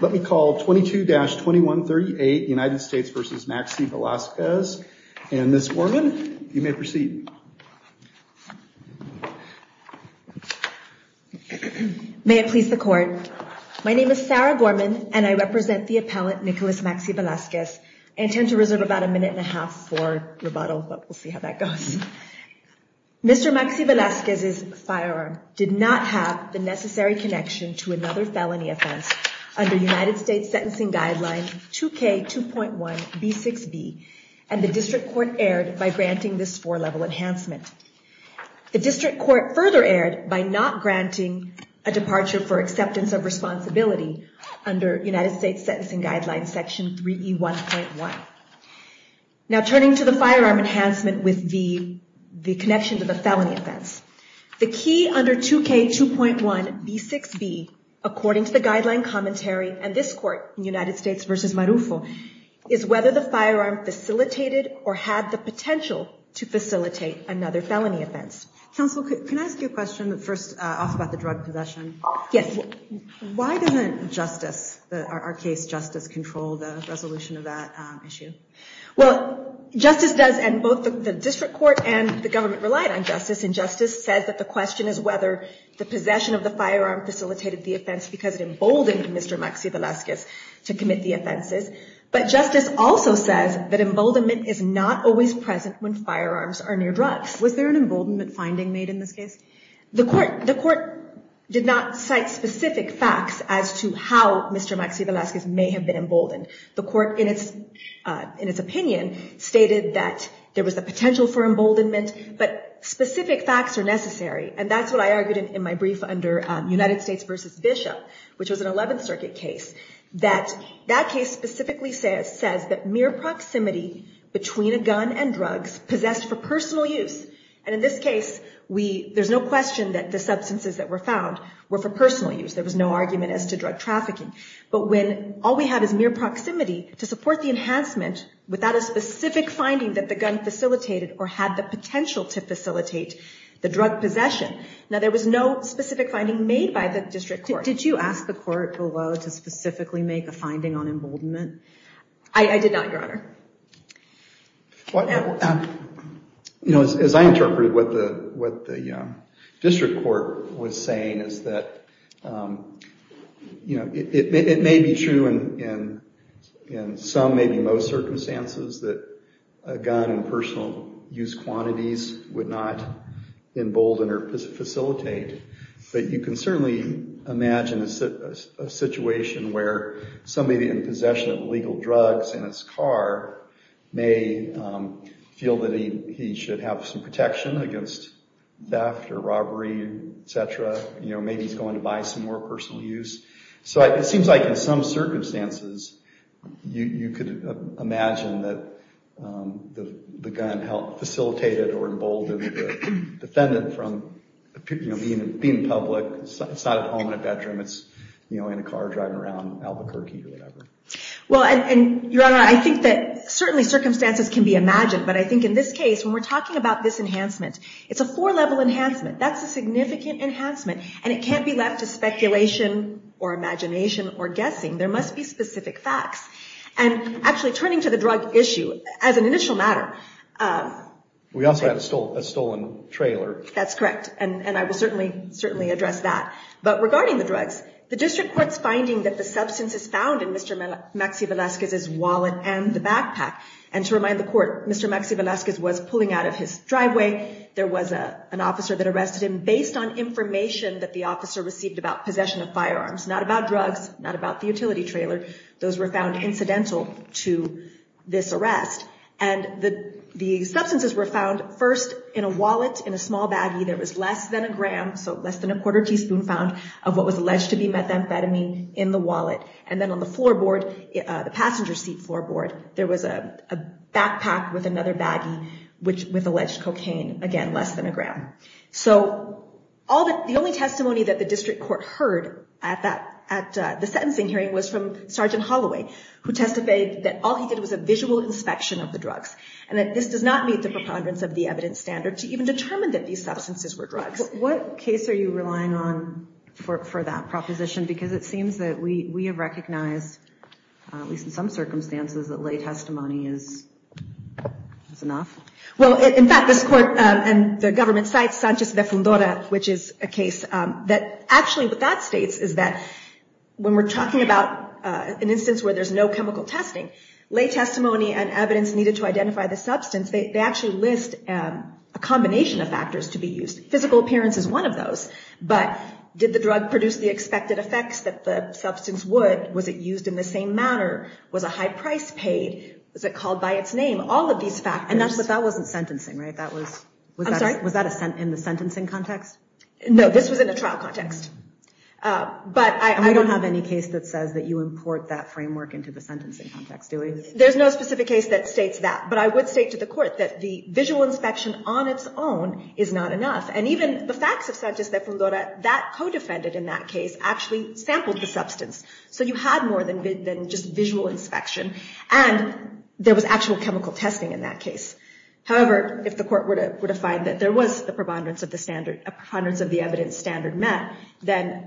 Let me call 22-2138 United States v. Maxey-Velasquez and Ms. Gorman, you may proceed. May it please the court. My name is Sarah Gorman and I represent the appellant Nicholas Maxey-Velasquez. I intend to reserve about a minute and a half for rebuttal but we'll see how that goes. Mr. Maxey-Velasquez's firearm did not have the necessary connection to another felony offense under United States Sentencing Guideline 2K2.1B6B and the district court erred by granting this four-level enhancement. The district court further erred by not granting a departure for acceptance of responsibility under United States Sentencing Guideline Section 3E1.1. Now turning to the firearm enhancement with the connection to the felony offense. The key under 2K2.1B6B, according to the guideline commentary and this court in United States v. Marufo, is whether the firearm facilitated or had the potential to facilitate another felony offense. Counsel, can I ask you a question first off about the drug possession? Yes. Why doesn't justice, our case justice, control the resolution of that issue? Well, justice does and both the district court and the government relied on justice and justice says that the question is whether the possession of the firearm facilitated the offense because it emboldened Mr. Maxey-Velasquez to commit the offenses. But justice also says that emboldenment is not always present when firearms are near drugs. Was there an emboldenment finding made in this case? The court did not cite specific facts as to how Mr. Maxey-Velasquez may have been emboldened. The court, in its opinion, stated that there was a potential for emboldenment but specific facts are necessary. And that's what I argued in my brief under United States v. Bishop, which was an 11th Circuit case, that that case specifically says that mere proximity between a gun and drugs possessed for personal use. And in this case, there's no question that the substances that were found were for personal use. There was no argument as to drug trafficking. But when all we have is mere proximity to support the enhancement without a specific finding that the gun facilitated or had the potential to facilitate the drug possession, now there was no specific finding made by the district court. Did you ask the court below to specifically make a finding on emboldenment? I did not, Your Honor. As I interpreted what the district court was saying is that it may be true in some, maybe most, circumstances that a gun in personal use quantities would not embolden or facilitate. But you can certainly imagine a situation where somebody in possession of illegal drugs in his car may feel that he should have some protection against theft or robbery, et cetera. Maybe he's going to buy some more personal use. So it seems like in some circumstances you could imagine that the gun facilitated or emboldened the defendant from being in public. It's not at home in a bedroom. It's in a car driving around Albuquerque or whatever. Well, and Your Honor, I think that certainly circumstances can be imagined. But I think in this case, when we're talking about this enhancement, it's a four-level enhancement. That's a significant enhancement. And it can't be left to speculation or imagination or guessing. There must be specific facts. And actually, turning to the drug issue, as an initial matter... We also have a stolen trailer. That's correct. And I will certainly address that. But regarding the drugs, the district court's finding that the substance is found in Mr. Maxie Velasquez's wallet and the backpack. And to remind the court, Mr. Maxie Velasquez was pulling out of his driveway. There was an officer that arrested him based on information that the officer received about possession of firearms. Not about drugs, not about the utility trailer. Those were found incidental to this arrest. And the substances were found first in a wallet, in a small baggie that was less than a gram, so less than a quarter teaspoon found, of what was alleged to be methamphetamine in the wallet. And then on the floorboard, the passenger seat floorboard, there was a backpack with another baggie with alleged cocaine, again, less than a gram. So, the only testimony that the district court heard at the sentencing hearing was from Sergeant Holloway, who testified that all he did was a visual inspection of the drugs. And that this does not meet the preponderance of the evidence standard to even determine that these substances were drugs. What case are you relying on for that proposition? Because it seems that we have recognized, at least in some circumstances, that lay testimony is enough. Well, in fact, this court and the government cite Sanchez de Fundora, which is a case that actually what that states is that when we're talking about an instance where there's no chemical testing, lay testimony and evidence needed to identify the substance, they actually list a combination of factors to be used. Physical appearance is one of those, but did the drug produce the expected effects that the substance would? Was it used in the same manner? Was a high price paid? Was it called by its name? All of these factors. But that wasn't sentencing, right? That was, I'm sorry, was that in the sentencing context? No, this was in the trial context. But I don't have any case that says that you import that framework into the sentencing context. There's no specific case that states that. But I would say to the court that the visual inspection on its own is not enough. And even the facts of Sanchez de Fundora, that co-defendant in that case actually sampled the substance. So you had more than just visual inspection. And there was actual chemical testing in that case. However, if the court were to find that there was the preponderance of the standard, a preponderance of the evidence standard met, then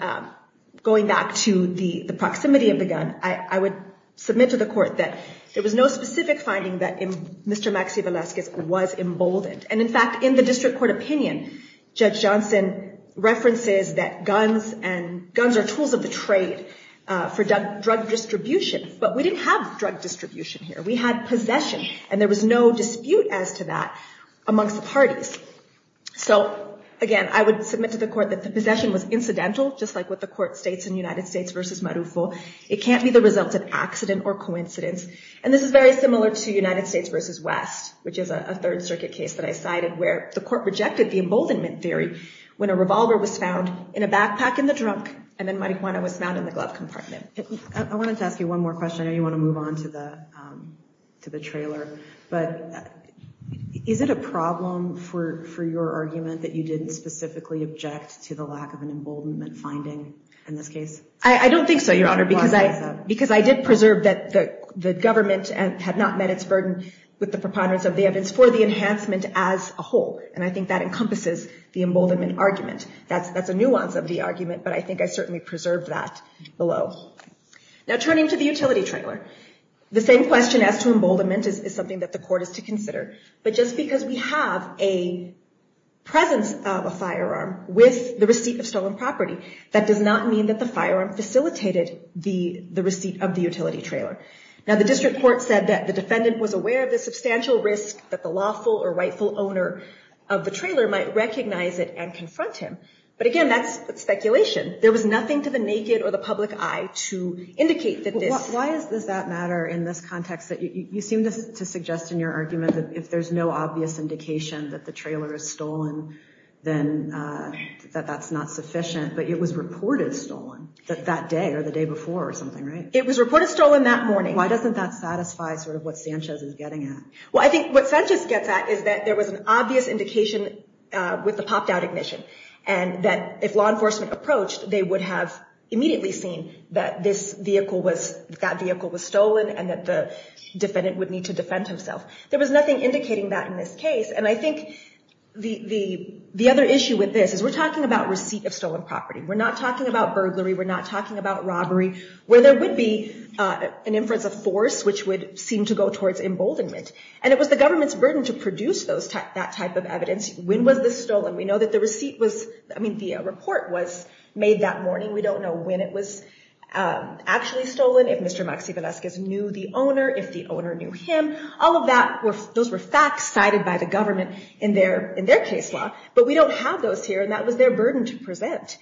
going back to the proximity of the gun, I would submit to the court that there was no specific finding that Mr. Maxie Velasquez was emboldened. And in fact, in the district court opinion, Judge Johnson references that guns and drug distribution, but we didn't have drug distribution here. We had possession and there was no dispute as to that amongst the parties. So, again, I would submit to the court that the possession was incidental, just like what the court states in United States v. Marufo. It can't be the result of accident or coincidence. And this is very similar to United States v. West, which is a Third Circuit case that I cited where the court rejected the emboldenment theory when a revolver was found in a backpack in the drunk and then I wanted to ask you one more question. I know you want to move on to the to the trailer, but is it a problem for your argument that you didn't specifically object to the lack of an emboldenment finding in this case? I don't think so, Your Honor, because I because I did preserve that the government had not met its burden with the preponderance of the evidence for the enhancement as a whole. And I think that encompasses the emboldenment argument. That's that's a nuance of the argument. But I think I certainly preserved that below. Now, turning to the utility trailer, the same question as to emboldenment is something that the court is to consider. But just because we have a presence of a firearm with the receipt of stolen property, that does not mean that the firearm facilitated the receipt of the utility trailer. Now, the district court said that the defendant was aware of the substantial risk that the lawful or rightful owner of the trailer might recognize it and confront him. But again, that's speculation. There was nothing to the naked or the public eye to indicate that. Why is this that matter in this context that you seem to suggest in your argument that if there's no obvious indication that the trailer is stolen, then that that's not sufficient. But it was reported stolen that that day or the day before or something, right? It was reported stolen that morning. Why doesn't that satisfy sort of what Sanchez is getting at? Well, I think what Sanchez gets at is that there was an obvious indication with the law enforcement approach, they would have immediately seen that this vehicle was that vehicle was stolen and that the defendant would need to defend himself. There was nothing indicating that in this case. And I think the other issue with this is we're talking about receipt of stolen property. We're not talking about burglary. We're not talking about robbery where there would be an inference of force which would seem to go towards emboldenment. And it was the government's burden to produce that type of evidence. When was this stolen? We know that the receipt was, I mean, the report was made that morning. We don't know when it was actually stolen. If Mr. Maxie Velasquez knew the owner, if the owner knew him, all of that, those were facts cited by the government in their in their case law. But we don't have those here. And that was their burden to present.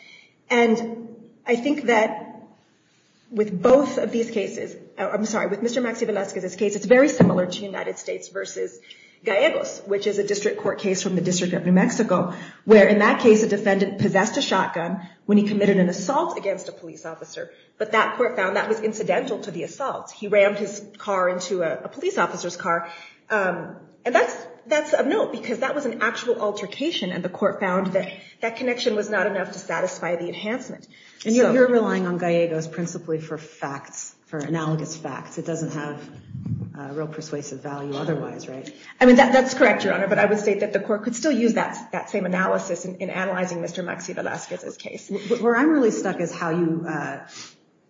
And I think that with both of these cases, I'm sorry, with Mr. Maxie Velasquez's case, it's very similar to United States versus Gallegos, which is a district court case from the District of New Mexico, where in that case, a man was arrested by them when he committed an assault against a police officer. But that court found that was incidental to the assault. He rammed his car into a police officer's car. And that's that's a note because that was an actual altercation. And the court found that that connection was not enough to satisfy the enhancement. And you're relying on Gallegos principally for facts, for analogous facts. It doesn't have a real persuasive value otherwise. Right. I mean, that's correct, Your Honor. But I would say that the court could still use that that same analysis in analyzing Mr. Maxie Velasquez's case. Where I'm really stuck is how you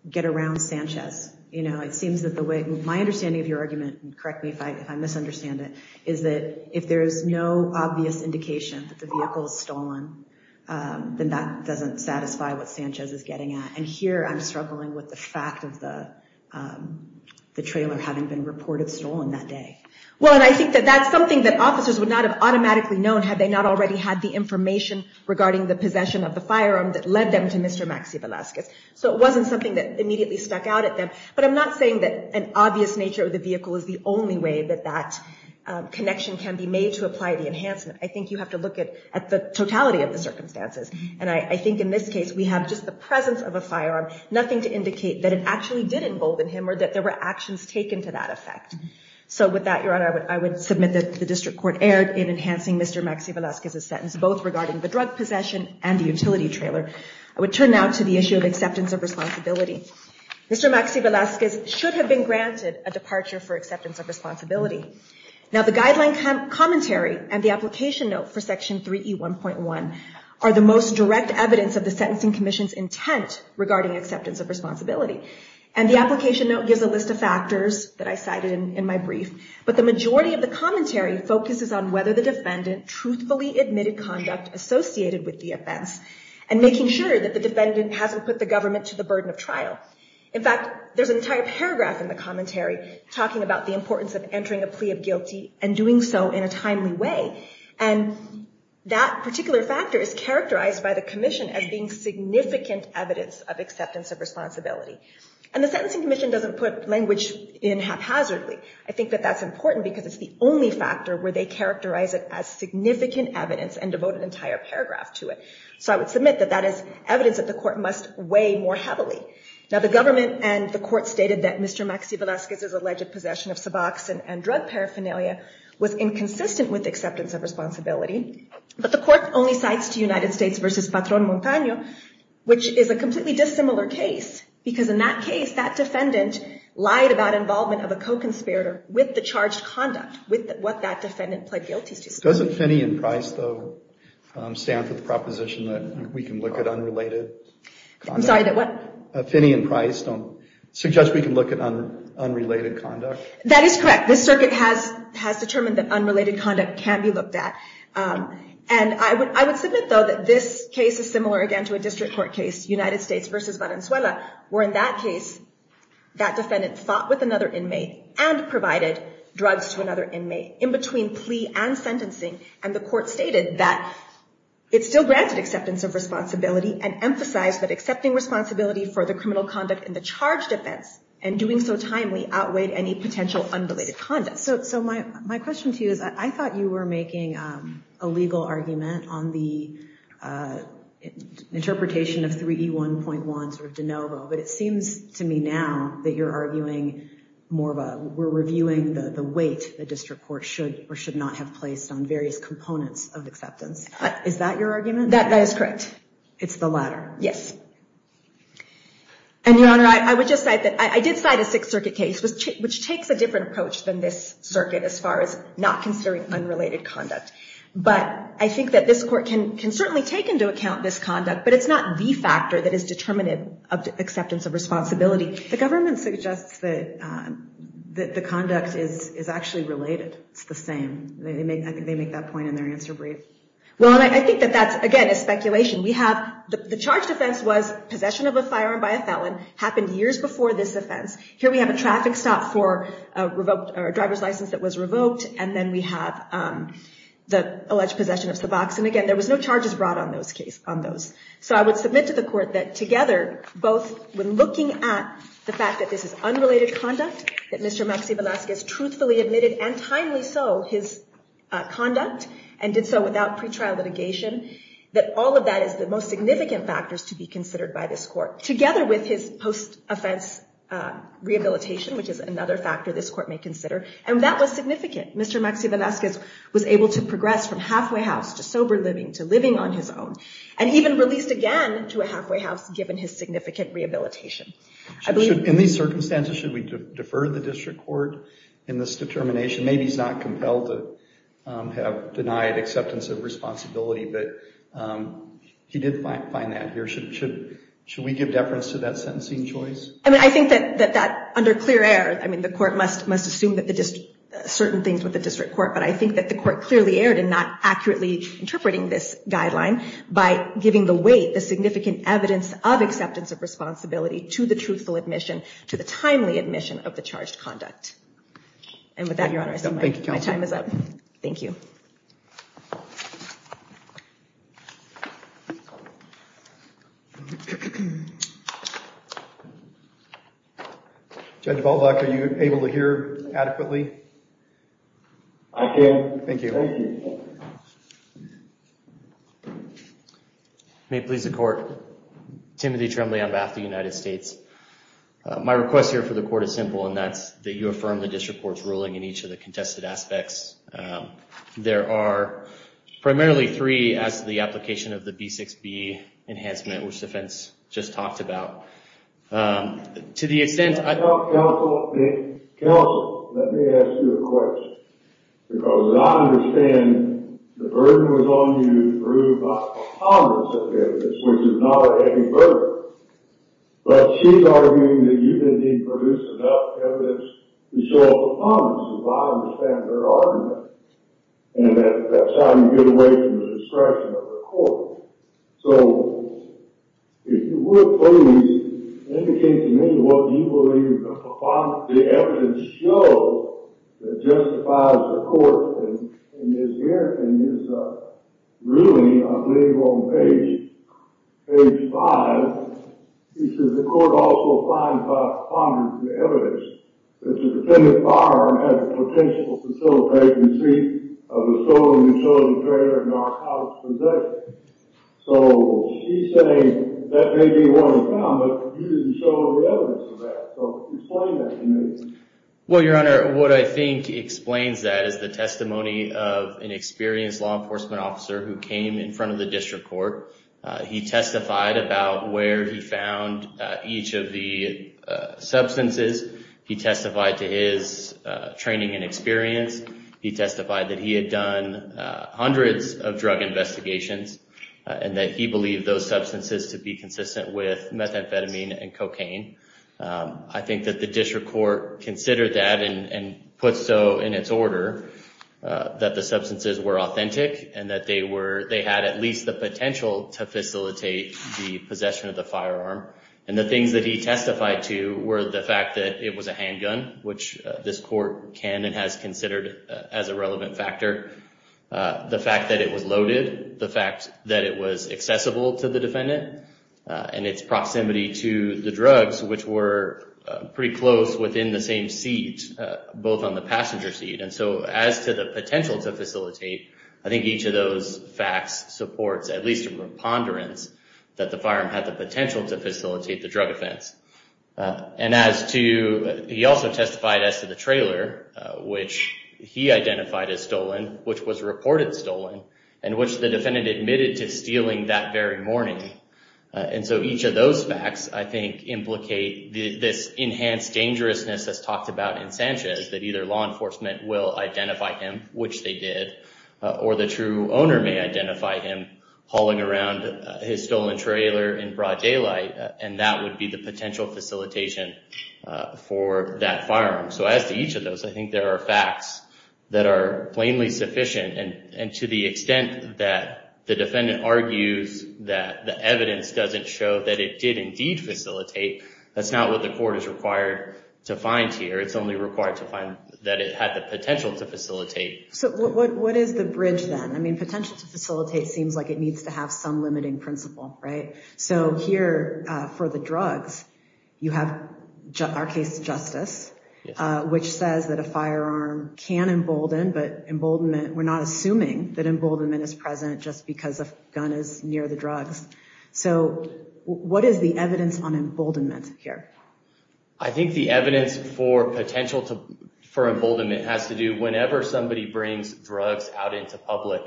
get around Sanchez. You know, it seems that the way my understanding of your argument, correct me if I misunderstand it, is that if there is no obvious indication that the vehicle is stolen, then that doesn't satisfy what Sanchez is getting at. And here I'm struggling with the fact of the the trailer having been reported stolen that day. Well, and I think that that's something that officers would not have had information regarding the possession of the firearm that led them to Mr. Maxie Velasquez. So it wasn't something that immediately stuck out at them. But I'm not saying that an obvious nature of the vehicle is the only way that that connection can be made to apply the enhancement. I think you have to look at the totality of the circumstances. And I think in this case, we have just the presence of a firearm, nothing to indicate that it actually did embolden him or that there were actions taken to that effect. So with that, Your Honor, I would submit that the district court erred in enhancing Mr. Maxie Velasquez's statement regarding the drug possession and the utility trailer. I would turn now to the issue of acceptance of responsibility. Mr. Maxie Velasquez should have been granted a departure for acceptance of responsibility. Now, the guideline commentary and the application note for Section 3E1.1 are the most direct evidence of the Sentencing Commission's intent regarding acceptance of responsibility. And the application note gives a list of factors that I cited in my brief. But the majority of the commentary focuses on whether the defendant truthfully admitted conduct associated with the offense and making sure that the defendant hasn't put the government to the burden of trial. In fact, there's an entire paragraph in the commentary talking about the importance of entering a plea of guilty and doing so in a timely way. And that particular factor is characterized by the commission as being significant evidence of acceptance of responsibility. And the Sentencing Commission doesn't put language in haphazardly. I think that that's important because it's the only factor where they characterize it as evidence and devote an entire paragraph to it. So I would submit that that is evidence that the court must weigh more heavily. Now, the government and the court stated that Mr. Maxie Velasquez's alleged possession of suboxone and drug paraphernalia was inconsistent with acceptance of responsibility. But the court only cites to United States v. Patron Montaño, which is a completely dissimilar case, because in that case, that defendant lied about involvement of a co-conspirator with the charged conduct, with what that defendant pled guilty to. Doesn't Finney and Price, though, stand for the proposition that we can look at unrelated? I'm sorry, that what? Finney and Price don't suggest we can look at unrelated conduct. That is correct. This circuit has determined that unrelated conduct can be looked at. And I would I would submit, though, that this case is similar again to a district court case, United States v. Valenzuela, where in that case, that defendant fought with another inmate and provided drugs to another inmate in between plea and sentencing. And the court stated that it still granted acceptance of responsibility and emphasized that accepting responsibility for the criminal conduct in the charge defense and doing so timely outweighed any potential unrelated conduct. So so my my question to you is, I thought you were making a legal argument on the interpretation of 3E1.1, sort of de novo, but it seems to me now that you're arguing more of a we're reviewing the weight the district court should or should not have placed on various components of acceptance. Is that your argument? That is correct. It's the latter. Yes. And Your Honor, I would just say that I did cite a Sixth Circuit case, which takes a different approach than this circuit as far as not considering unrelated conduct. But I think that this court can can certainly take into account this conduct, but it's not the factor that is determinative of acceptance of responsibility. The government suggests that the conduct is is actually related. It's the same. They make I think they make that point in their answer brief. Well, I think that that's, again, a speculation. We have the charge defense was possession of a firearm by a felon happened years before this offense. Here we have a traffic stop for a revoked driver's license that was revoked. And then we have the alleged possession of the box. And again, there was no charges brought on those case on those. So I would submit to the court that together, both when looking at the fact that this is unrelated conduct, that Mr. Maxie Velasquez truthfully admitted and timely so his conduct and did so without pretrial litigation, that all of that is the most significant factors to be considered by this court, together with his post offense rehabilitation, which is another factor this court may consider. And that was significant. Mr. Maxie Velasquez was able to progress from halfway house to sober living, to living on his own, and even released again to a halfway house, given his significant rehabilitation. In these circumstances, should we defer the district court in this determination? Maybe he's not compelled to have denied acceptance of responsibility, but he did find that here. Should we give deference to that sentencing choice? I mean, I think that that under clear air, I mean, the court must must assume that the district certain things with the district court. But I think that the court clearly erred in not accurately interpreting this guideline by giving the weight, the significant evidence of acceptance of responsibility to the truthful admission, to the timely admission of the charged conduct. And with that, Your Honor, my time is up. Thank you. Judge Baldock, are you able to hear adequately? I can. Thank you. May it please the court. Timothy Trembley on behalf of the United States. My request here for the court is simple, and that's that you affirm the district court's ruling in each of the contested aspects. There are primarily three as to the application of the B6B enhancement, which the defense just talked about. To the extent... Counsel, let me ask you a question, because I understand the burden was on you to prove by the ponderance of evidence, which is not a heavy burden. But she's arguing that you didn't produce enough evidence to show up the ponderance of I understand her argument and that that's how you get away from the discretion of the court. So if you would please indicate to me what you believe the evidence shows that justifies the court in this hearing and is ruling, I believe, on page five, he says the court also finds by ponderance of evidence that the defendant firearm has a potential facilitation of the stolen and chosen trader in our house possession. So she's saying that may be what we found, but you didn't show the evidence of that. So explain that to me. Well, Your Honor, what I think explains that is the testimony of an experienced law enforcement officer who came in front of the district court. He testified about where he found each of the substances. He testified to his training and experience. He testified that he had done hundreds of drug investigations and that he believed those substances to be consistent with methamphetamine and cocaine. I think that the district court considered that and put so in its order that the substances were authentic and that they had at least the potential to facilitate the possession of the firearm. And the things that he testified to were the fact that it was a handgun, which this court can and has considered as a relevant factor, the fact that it was loaded, the fact that it was accessible to the defendant, and its proximity to the drugs, which were pretty close within the same seat, both on the passenger seat. And so as to the potential to facilitate, I think each of those facts supports, at least from a ponderance, that the firearm had the potential to facilitate the drug offense. And as to, he also testified as to the trailer, which he identified as stolen, which was reported stolen, and which the defendant admitted to stealing that very morning. And so each of those facts, I think, implicate this enhanced dangerousness, as talked about in Sanchez, that either law enforcement will identify him, which they did, or the true owner may identify him hauling around his stolen trailer in broad daylight. And that would be the potential facilitation for that firearm. So as to each of those, I think there are facts that are plainly sufficient. And to the extent that the defendant argues that the evidence doesn't show that it did indeed facilitate, that's not what the court is required to find here. It's only required to find that it had the potential to facilitate. So what is the bridge then? I mean, potential to facilitate seems like it needs to have some limiting principle, right? So here, for the drugs, you have our case justice, which says that a firearm can embolden, but emboldenment, we're not assuming that emboldenment is present just because a gun is near the drugs. So what is the evidence on emboldenment here? I think the evidence for potential for emboldenment has to do whenever somebody brings drugs out into public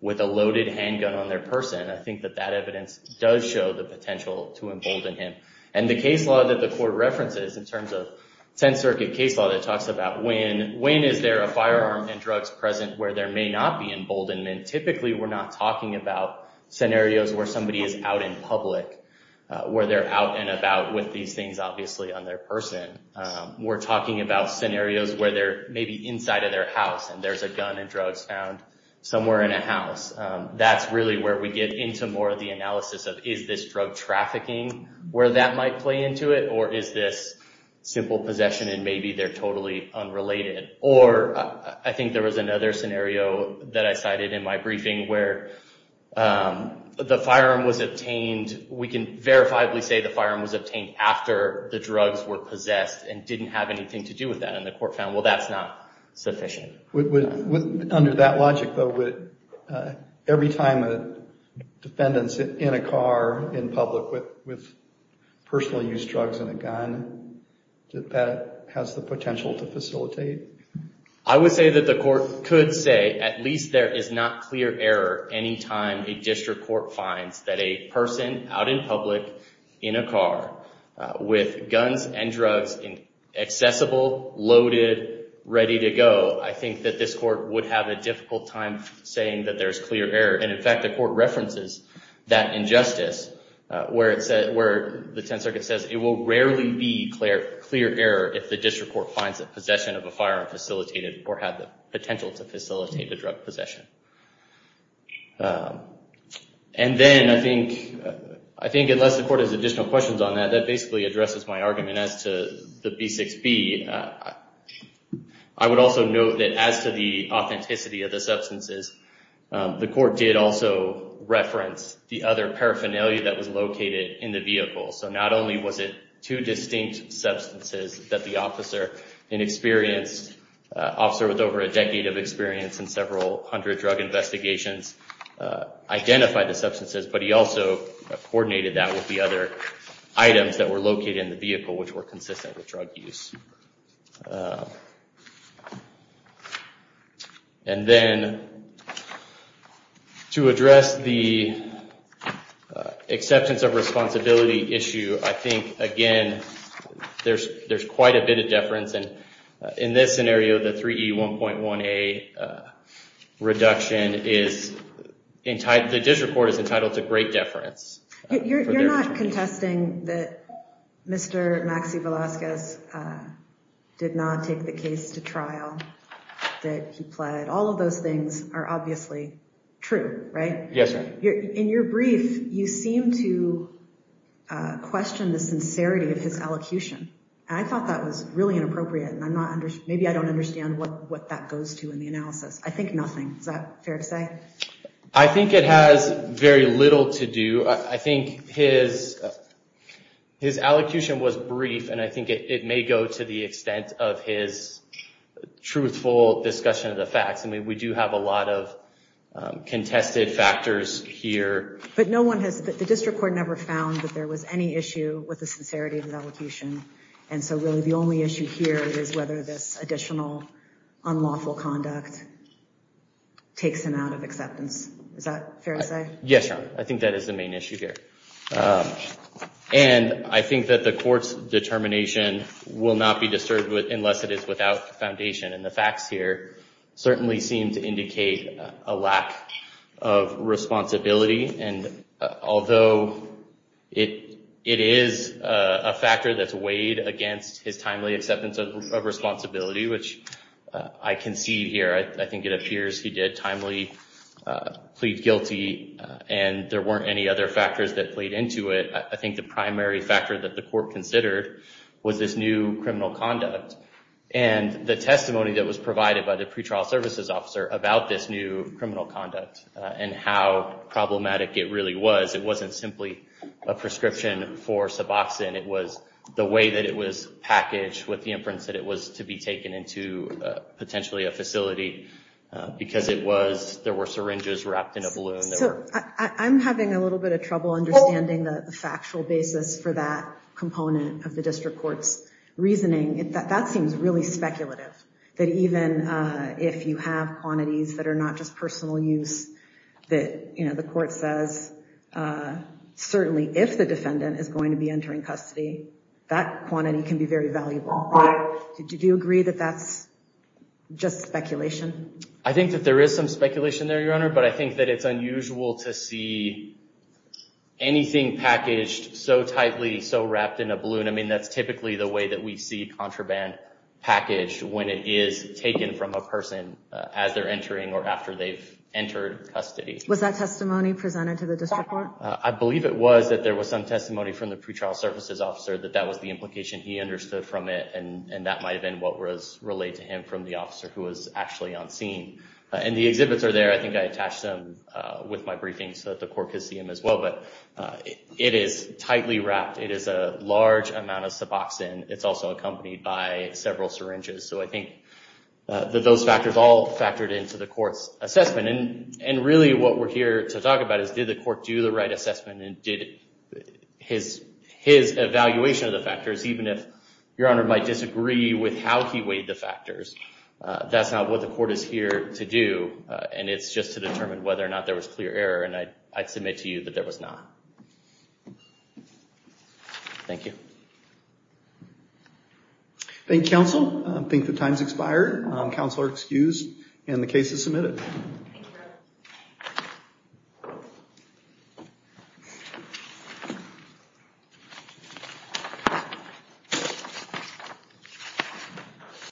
with a loaded handgun on their person. I think that that evidence does show the potential to embolden him. And the case law that the court references in terms of 10th Circuit case law that talks about when is there a firearm and drugs present where there may not be emboldenment, typically we're not talking about scenarios where somebody is out in public, where they're out and about with these things, obviously, on their person. We're talking about scenarios where they're maybe inside of their house and there's a gun and drugs found somewhere in a house. That's really where we get into more of the analysis of is this drug trafficking where that might play into it? Or is this simple possession and maybe they're totally unrelated? Or I think there was another scenario that I cited in my briefing where the firearm was obtained, we can verifiably say the firearm was obtained after the drugs were possessed and didn't have anything to do with that. And the court found, well, that's not sufficient. Would, under that logic, though, would every time a defendant's in a car in public with personal use drugs and a gun, that that has the potential to facilitate? I would say that the court could say at least there is not clear error any time a district court finds that a person out in public in a car with guns and drugs accessible, loaded, ready to go. I think that this court would have a difficult time saying that there's clear error. And in fact, the court references that injustice where the Tenth Circuit says it will rarely be clear error if the district court finds the possession of a firearm facilitated or had the potential to facilitate the drug possession. And then I think unless the court has additional questions on that, that basically addresses my argument as to the B6B. I would also note that as to the authenticity of the substances, the court did also reference the other paraphernalia that was located in the vehicle. So not only was it two distinct substances that the officer, an experienced officer with over a decade of experience in several hundred drug investigations, identified the substances, but he also coordinated that with the other items that were located in the vehicle which were consistent with drug use. And then to address the acceptance of responsibility issue, I think, again, there's quite a bit of deference. And in this scenario, the 3E1.1A reduction is entitled, the district court is entitled to great deference. You're not contesting that Mr. Maxi Velasquez did not take the case to trial, that he pled. All of those things are obviously true, right? Yes, ma'am. In your brief, you seem to question the sincerity of his elocution. I thought that was really inappropriate, and maybe I don't understand what that goes to in the analysis. I think nothing. Is that fair to say? I think it has very little to do. I think his elocution was brief, and I think it may go to the extent of his truthful discussion of the facts. I mean, we do have a lot of contested factors here. But the district court never found that there was any issue with the sincerity of the elocution. And so really, the only issue here is whether this additional unlawful conduct takes him out of acceptance. Is that fair to say? Yes, ma'am. I think that is the main issue here. And I think that the court's determination will not be disturbed unless it is without foundation. And the facts here certainly seem to indicate a lack of responsibility. And although it is a factor that's weighed against his timely acceptance of responsibility, which I concede here. I think it appears he did timely plead guilty, and there weren't any other factors that played into it. I think the primary factor that the court considered was this new criminal conduct. And the testimony that was provided by the pretrial services officer about this new it really was. It wasn't simply a prescription for Suboxone. It was the way that it was packaged with the inference that it was to be taken into potentially a facility. Because there were syringes wrapped in a balloon. So I'm having a little bit of trouble understanding the factual basis for that component of the district court's reasoning. That seems really speculative. That even if you have quantities that are not just personal use, that the court says certainly if the defendant is going to be entering custody, that quantity can be very valuable. Did you agree that that's just speculation? I think that there is some speculation there, Your Honor. But I think that it's unusual to see anything packaged so tightly, so wrapped in a balloon. That's typically the way that we see contraband packaged when it is taken from a person as they're entering or after they've entered custody. Was that testimony presented to the district court? I believe it was that there was some testimony from the pretrial services officer that that was the implication he understood from it. And that might have been what was relayed to him from the officer who was actually on scene. And the exhibits are there. I think I attached them with my briefing so that the court could see them as well. But it is tightly wrapped. It is a large amount of suboxone. It's also accompanied by several syringes. So I think that those factors all factored into the court's assessment. And really what we're here to talk about is, did the court do the right assessment? And did his evaluation of the factors, even if Your Honor might disagree with how he weighed the factors, that's not what the court is here to do. And it's just to determine whether or not there was clear error. And I submit to you that there was not. Thank you. Thank you, counsel. I think the time's expired. Counsel are excused. And the case is submitted.